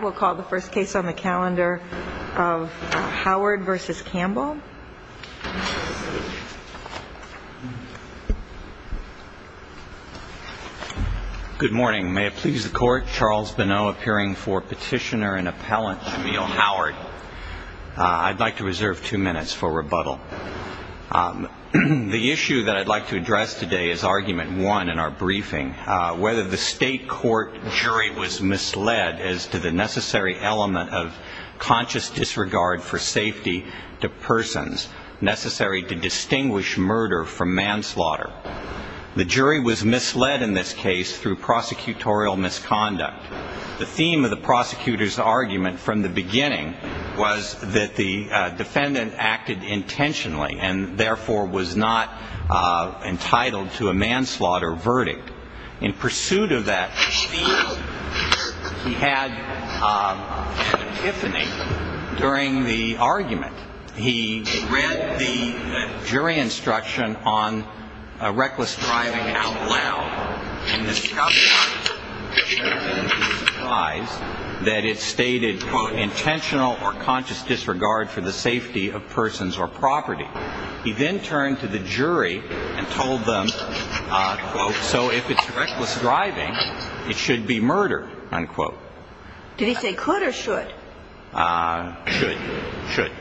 We'll call the first case on the calendar of Howard v. Campbell. Good morning. May it please the Court, Charles Benneau appearing for Petitioner and Appellant Jamil Howard. I'd like to reserve two minutes for rebuttal. The issue that I'd like to address today is Argument 1 in our briefing, whether the State Court jury was misled as to the necessary element of conscious disregard for safety to persons necessary to distinguish murder from manslaughter. The jury was misled in this case through prosecutorial misconduct. The theme of the prosecutor's argument from the beginning was that the defendant acted intentionally and therefore was not entitled to a manslaughter verdict. In pursuit of that theme, he had epiphany during the argument. He read the jury instruction on reckless driving out loud and discovered, to his surprise, that it stated, quote, intentional or conscious disregard for the safety of persons or property. He then turned to the jury and told them, quote, so if it's reckless driving, it should be murdered, unquote. Did he say could or should? Should. Should.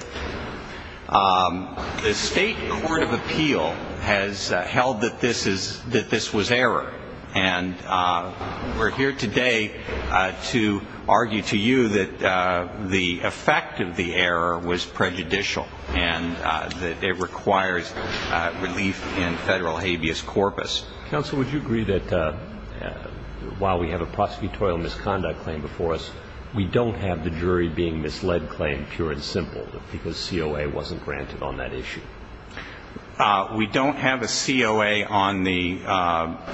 The State Court of Appeal has held that this was error, and we're here today to argue to you that the effect of the error was prejudicial and that it requires relief in federal habeas corpus. Counsel, would you agree that while we have a prosecutorial misconduct claim before us, we don't have the jury being misled claim pure and simple because COA wasn't granted on that issue? We don't have a COA on the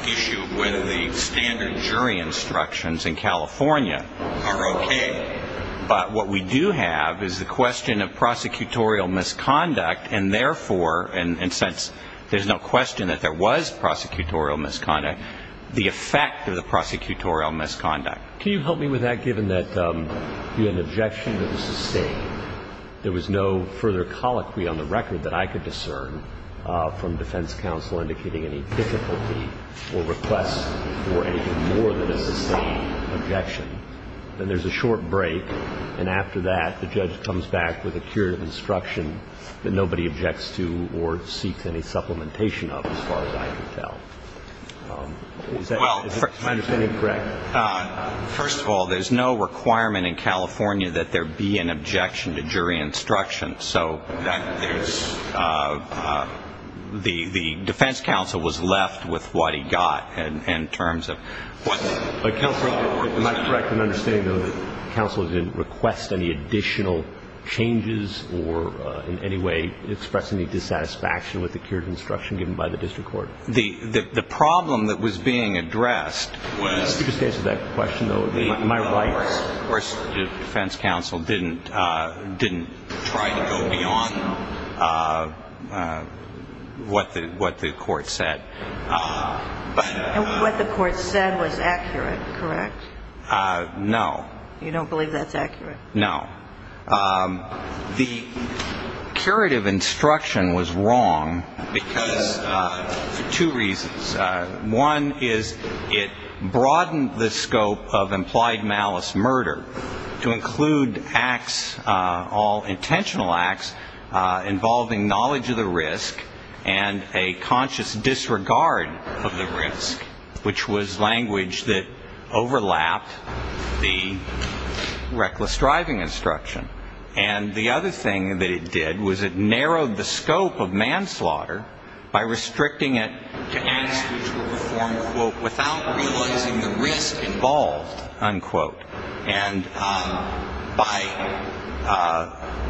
issue of whether the standard jury instructions in California are okay. But what we do have is the question of prosecutorial misconduct, and therefore, and since there's no question that there was prosecutorial misconduct, the effect of the prosecutorial misconduct. Can you help me with that, given that you had an objection that was sustained? There was no further colloquy on the record that I could discern from defense counsel indicating any difficulty or request for anything more than a sustained objection. And there's a short break, and after that, the judge comes back with a curative instruction that nobody objects to or seeks any supplementation of, as far as I can tell. Is that my understanding correct? First of all, there's no requirement in California that there be an objection to jury instruction. So there's the defense counsel was left with what he got in terms of what the counsel reported. Am I correct in understanding, though, that the counsel didn't request any additional changes or in any way express any dissatisfaction with the curative instruction given by the district court? The problem that was being addressed was the defense counsel didn't try to go beyond what the court said. And what the court said was accurate, correct? No. You don't believe that's accurate? No. The curative instruction was wrong for two reasons. One is it broadened the scope of implied malice murder to include acts, all intentional acts, involving knowledge of the risk and a conscious disregard of the risk, which was language that overlapped the reckless driving instruction. And the other thing that it did was it narrowed the scope of manslaughter by restricting it to acts which were performed without realizing the risk involved, unquote. And by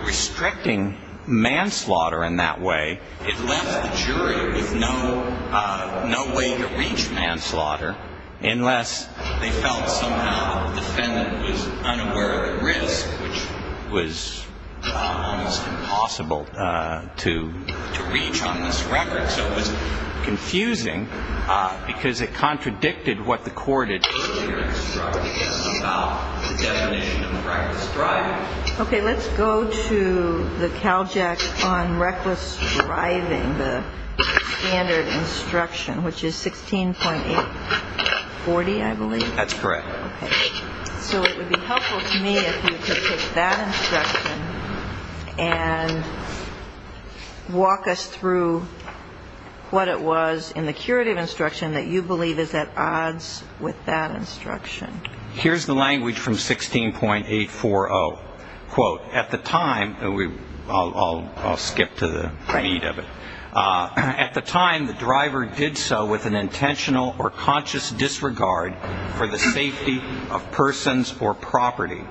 restricting manslaughter in that way, it left the jury with no way to reach manslaughter unless they felt somehow the defendant was unaware of the risk, which was almost impossible to reach on this record. So it was confusing because it contradicted what the court had earlier instructed about the definition of reckless driving. Okay. Let's go to the CalJack on reckless driving, the standard instruction, which is 16.840, I believe. That's correct. So it would be helpful to me if you could take that instruction and walk us through what it was in the curative instruction that you believe is at odds with that instruction. Here's the language from 16.840, quote. At the time, I'll skip to the meat of it. At the time, the driver did so with an intentional or conscious disregard for the safety of persons or property.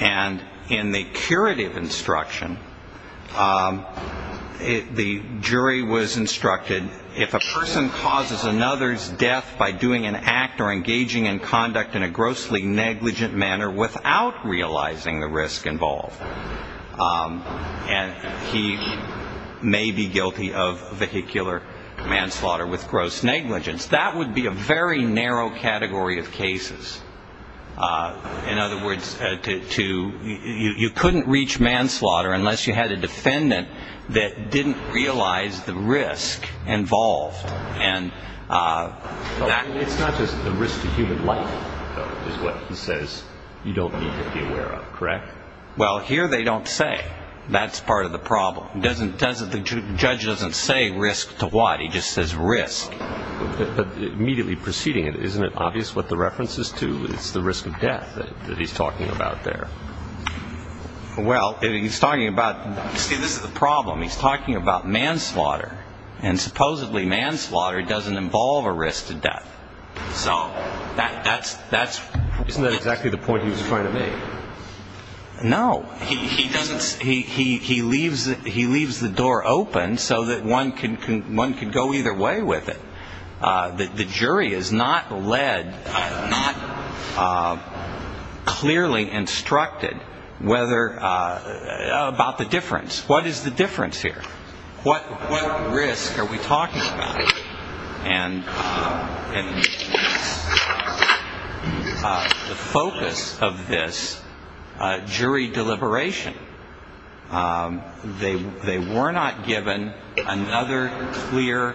And in the curative instruction, the jury was instructed, if a person causes another's death by doing an act or engaging in conduct in a grossly negligent manner without realizing the risk involved, he may be guilty of vehicular manslaughter with gross negligence. That would be a very narrow category of cases. In other words, you couldn't reach manslaughter unless you had a defendant that didn't realize the risk involved. It's not just the risk to human life, though, is what he says you don't need to be aware of, correct? Well, here they don't say. That's part of the problem. The judge doesn't say risk to what. He just says risk. But immediately preceding it, isn't it obvious what the reference is to? It's the risk of death that he's talking about there. Well, he's talking about – see, this is the problem. He's talking about manslaughter. And supposedly manslaughter doesn't involve a risk to death. So that's – Isn't that exactly the point he was trying to make? No. He doesn't – he leaves the door open so that one can go either way with it. The jury is not led, not clearly instructed whether – about the difference. What is the difference here? What risk are we talking about? And the focus of this, jury deliberation. They were not given another clear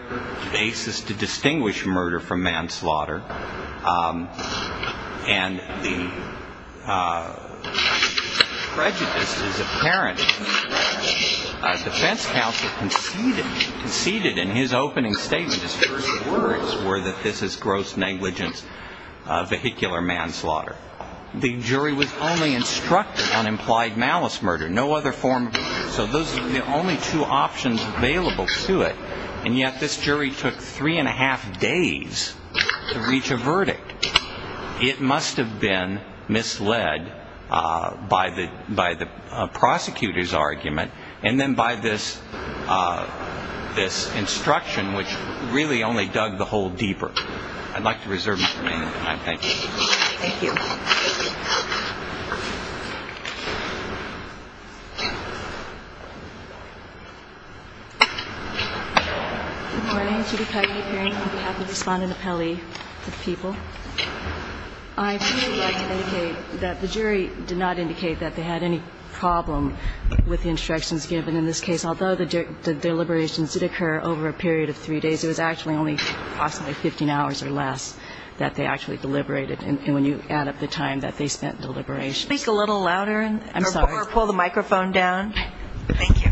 basis to distinguish murder from manslaughter. And the prejudice is apparent. The defense counsel conceded in his opening statement, his first words, were that this is gross negligence, vehicular manslaughter. The jury was only instructed on implied malice murder. No other form – so those are the only two options available to it. And yet this jury took three and a half days to reach a verdict. It must have been misled by the prosecutor's argument and then by this instruction, which really only dug the hole deeper. I'd like to reserve my time. Thank you. Thank you. Good morning. Judy Coggin, appearing on behalf of the respondent appellee to the people. I'd really like to indicate that the jury did not indicate that they had any problem with the instructions given in this case, although the deliberations did occur over a period of three days. It was actually only possibly 15 hours or less that they actually deliberated. And when you add up the time that they spent deliberating. Speak a little louder. I'm sorry. Or pull the microphone down. Thank you.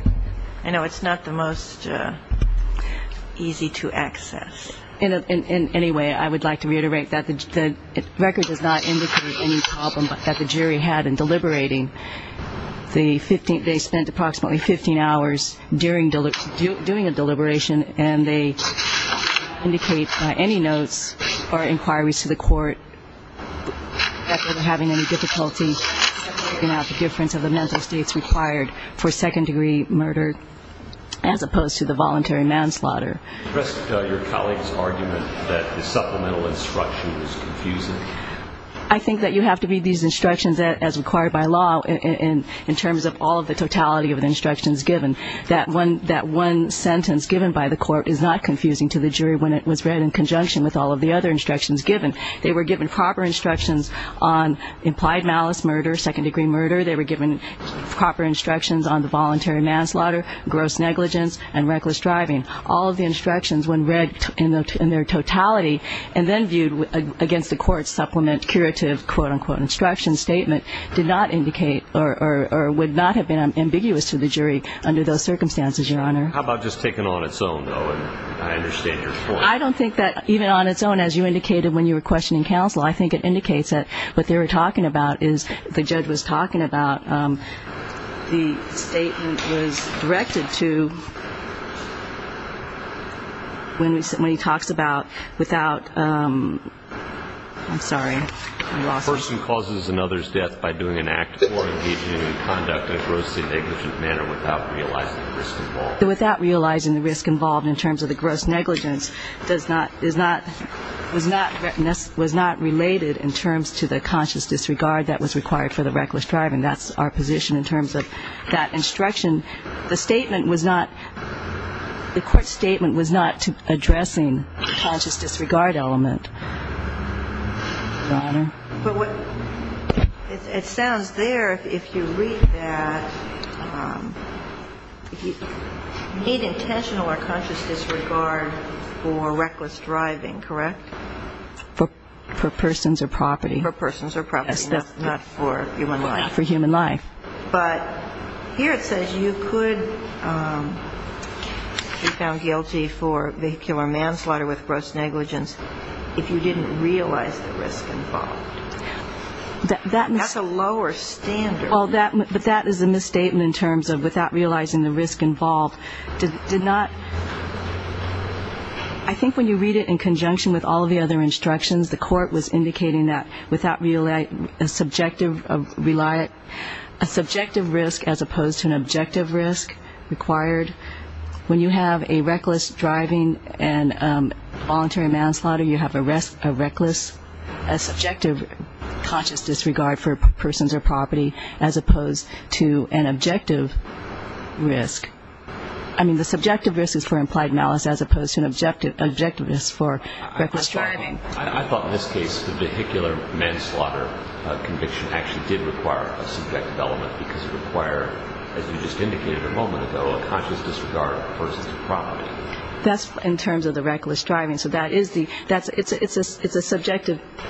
I know it's not the most easy to access. In any way, I would like to reiterate that the record does not indicate any problem that the jury had in deliberating. They spent approximately 15 hours doing a deliberation and they indicate by any notes or inquiries to the court that they were having any difficulty in working out the difference of the mental states required for second-degree murder as opposed to the voluntary manslaughter. Your colleague's argument that the supplemental instruction was confusing. I think that you have to read these instructions as required by law in terms of all of the totality of the instructions given. That one sentence given by the court is not confusing to the jury when it was read in conjunction with all of the other instructions given. They were given proper instructions on implied malice murder, second-degree murder. They were given proper instructions on the voluntary manslaughter, gross negligence, and reckless driving. All of the instructions when read in their totality and then viewed against the court's supplement curative quote-unquote instruction statement did not indicate or would not have been ambiguous to the jury under those circumstances, Your Honor. How about just taking it on its own, though? I understand your point. I don't think that even on its own, as you indicated when you were questioning counsel, I think it indicates that what they were talking about is the judge was talking about the statement was directed to when he talks about without, I'm sorry. A person causes another's death by doing an act or engaging in conduct in a grossly negligent manner without realizing the risk involved. The court's statement in terms of the gross negligence does not ‑‑ was not ‑‑ was not related in terms to the conscious disregard that was required for the reckless driving. That's our position in terms of that instruction. The statement was not ‑‑ the court's statement was not addressing the conscious disregard element, Your Honor. But what ‑‑ it sounds there, if you read that, you need intentional or conscious disregard for reckless driving, correct? For persons or property. For persons or property, not for human life. Not for human life. But here it says you could be found guilty for vehicular manslaughter with gross negligence if you didn't realize the risk involved. That's a lower standard. Well, that is a misstatement in terms of without realizing the risk involved. Did not ‑‑ I think when you read it in conjunction with all the other instructions, the court was indicating that without a subjective ‑‑ a subjective risk as opposed to an objective risk required. When you have a reckless driving and voluntary manslaughter, you have a reckless ‑‑ a subjective conscious disregard for persons or property as opposed to an objective risk. I mean, the subjective risk is for implied malice as opposed to an objective risk for reckless driving. I thought in this case the vehicular manslaughter conviction actually did require a subjective element because it required, as you just indicated a moment ago, a conscious disregard for persons or property. That's in terms of the reckless driving. So that is the ‑‑ it's a subjective ‑‑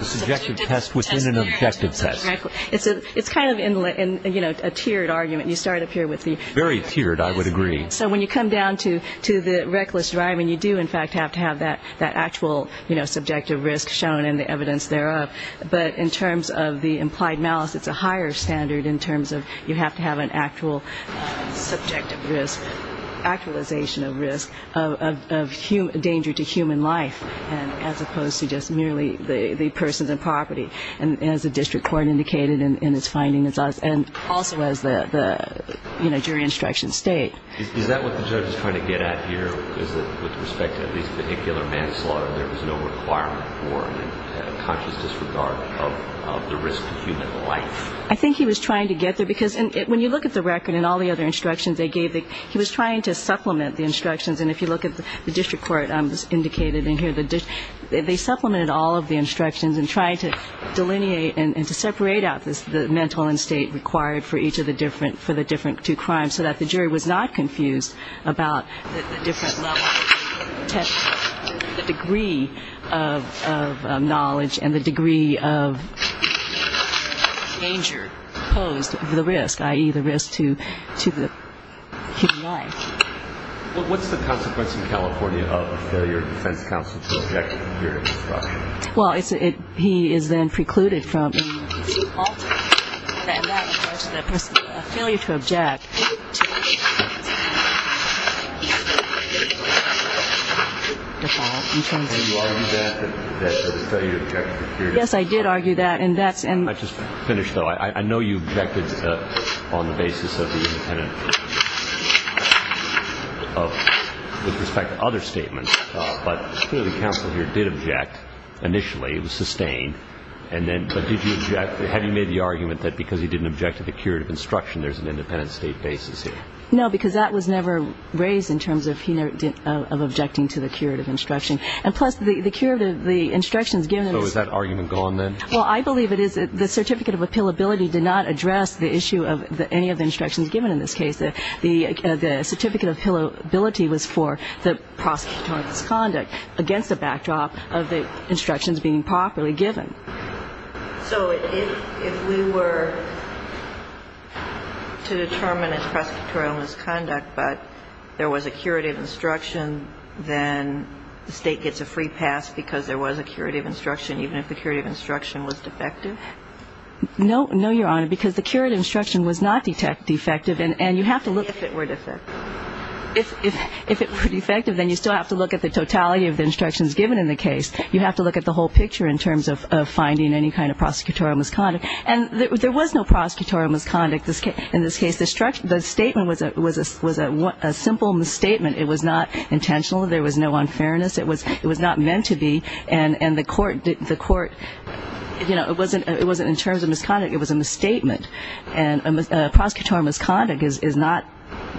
A subjective test within an objective test. It's kind of a tiered argument. You start up here with the ‑‑ Very tiered, I would agree. So when you come down to the reckless driving, you do, in fact, have to have that actual, you know, subjective risk shown in the evidence thereof. But in terms of the implied malice, it's a higher standard in terms of you have to have an actual subjective risk, actualization of risk of danger to human life as opposed to just merely the persons and property. And as the district court indicated in its findings, and also as the, you know, jury instructions state. Is that what the judge is trying to get at here? Is it with respect to at least vehicular manslaughter, there was no requirement for a conscious disregard of the risk to human life? I think he was trying to get there. Because when you look at the record and all the other instructions they gave, he was trying to supplement the instructions. And if you look at the district court indicated in here, they supplemented all of the instructions in trying to delineate and to separate out the mental and state required for each of the different two crimes so that the jury was not confused about the different levels, the degree of knowledge and the degree of danger posed to the risk, i.e., the risk to human life. Well, what's the consequence in California of a failure of defense counsel to object to a period of instruction? Well, he is then precluded from altering that in regards to the failure to object. So you argue that, that the failure to object to a period of instruction? Yes, I did argue that. I just finished, though. I know you objected on the basis of the independent, with respect to other statements, but clearly counsel here did object initially. It was sustained. But did you object? Have you made the argument that because he didn't object to the curative instruction, there's an independent state basis here? No, because that was never raised in terms of objecting to the curative instruction. And plus, the curative, the instructions given to us. So is that argument gone then? Well, I believe it is. The certificate of appealability did not address the issue of any of the instructions given in this case. The certificate of appealability was for the prosecutorial misconduct, against the backdrop of the instructions being properly given. So if we were to determine it's prosecutorial misconduct, but there was a curative instruction, then the State gets a free pass because there was a curative instruction, even if the curative instruction was defective? No, Your Honor, because the curative instruction was not defective. And you have to look. If it were defective. If it were defective, then you still have to look at the totality of the instructions given in the case. You have to look at the whole picture in terms of finding any kind of prosecutorial misconduct. And there was no prosecutorial misconduct in this case. The statement was a simple misstatement. It was not intentional. There was no unfairness. It was not meant to be. And the court, you know, it wasn't in terms of misconduct. It was a misstatement. And prosecutorial misconduct is not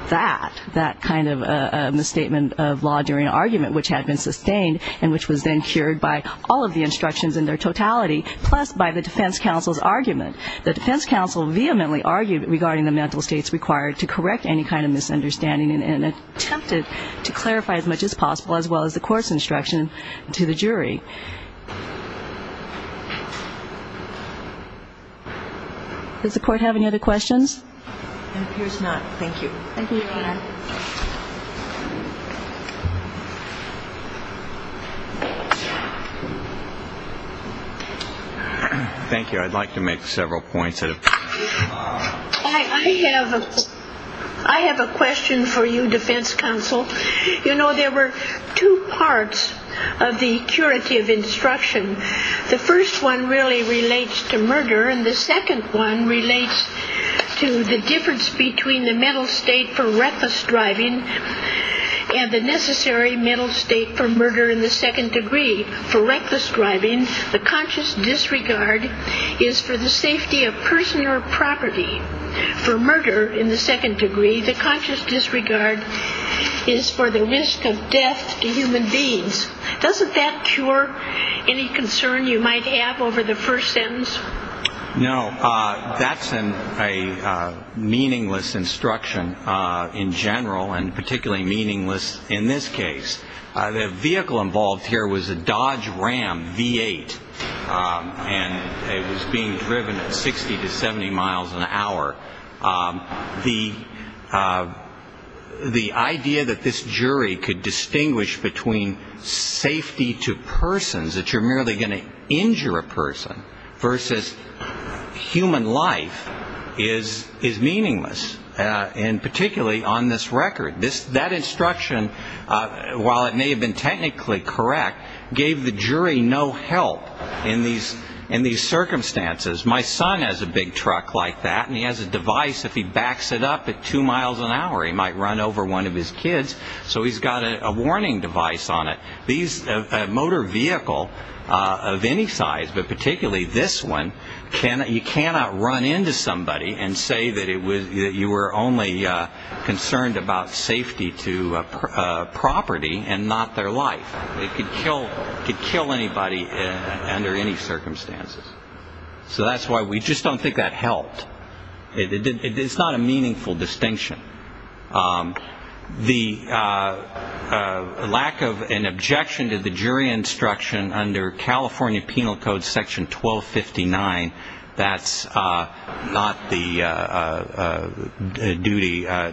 that, that kind of misstatement of law during an argument, which had been sustained and which was then cured by all of the instructions in their totality, plus by the defense counsel's argument. The defense counsel vehemently argued regarding the mental states required to correct any kind of misunderstanding and attempted to clarify as much as possible, as well as the court's instruction to the jury. Does the court have any other questions? It appears not. Thank you. Thank you, Your Honor. Thank you. I'd like to make several points. I have a question for you, defense counsel. You know, there were two parts of the curative instruction. The first one really relates to murder, and the second one relates to the difference between the mental state for reckless driving and the necessary mental state for murder in the second degree. The conscious disregard is for the safety of person or property. For murder in the second degree, the conscious disregard is for the risk of death to human beings. Doesn't that cure any concern you might have over the first sentence? No. That's a meaningless instruction in general, and particularly meaningless in this case. The vehicle involved here was a Dodge Ram V8, and it was being driven at 60 to 70 miles an hour. The idea that this jury could distinguish between safety to persons, that you're merely going to injure a person, versus human life is meaningless, and particularly on this record. That instruction, while it may have been technically correct, gave the jury no help in these circumstances. My son has a big truck like that, and he has a device. If he backs it up at two miles an hour, he might run over one of his kids. So he's got a warning device on it. A motor vehicle of any size, but particularly this one, you cannot run into somebody and say that you were only concerned about safety to property and not their life. It could kill anybody under any circumstances. So that's why we just don't think that helped. It's not a meaningful distinction. The lack of an objection to the jury instruction under California Penal Code Section 1259, that's not the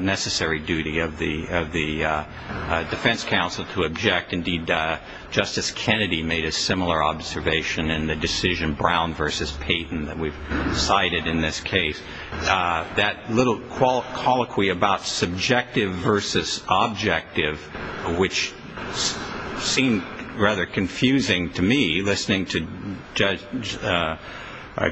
necessary duty of the defense counsel to object. Indeed, Justice Kennedy made a similar observation in the decision Brown v. Payton that we've cited in this case. That little colloquy about subjective versus objective, which seemed rather confusing to me, listening to Judge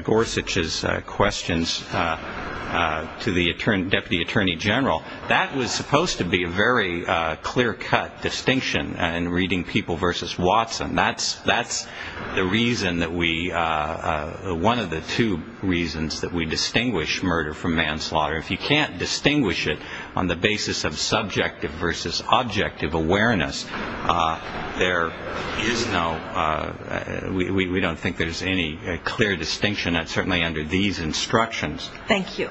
Gorsuch's questions to the Deputy Attorney General, that was supposed to be a very clear-cut distinction in reading people versus Watson. That's the reason that we – one of the two reasons that we distinguish murder from manslaughter. If you can't distinguish it on the basis of subjective versus objective awareness, there is no – we don't think there's any clear distinction, certainly under these instructions. Thank you.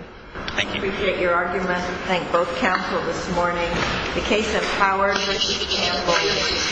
Thank you. Appreciate your argument. Thank both counsel this morning. The case of Power v. Campbell.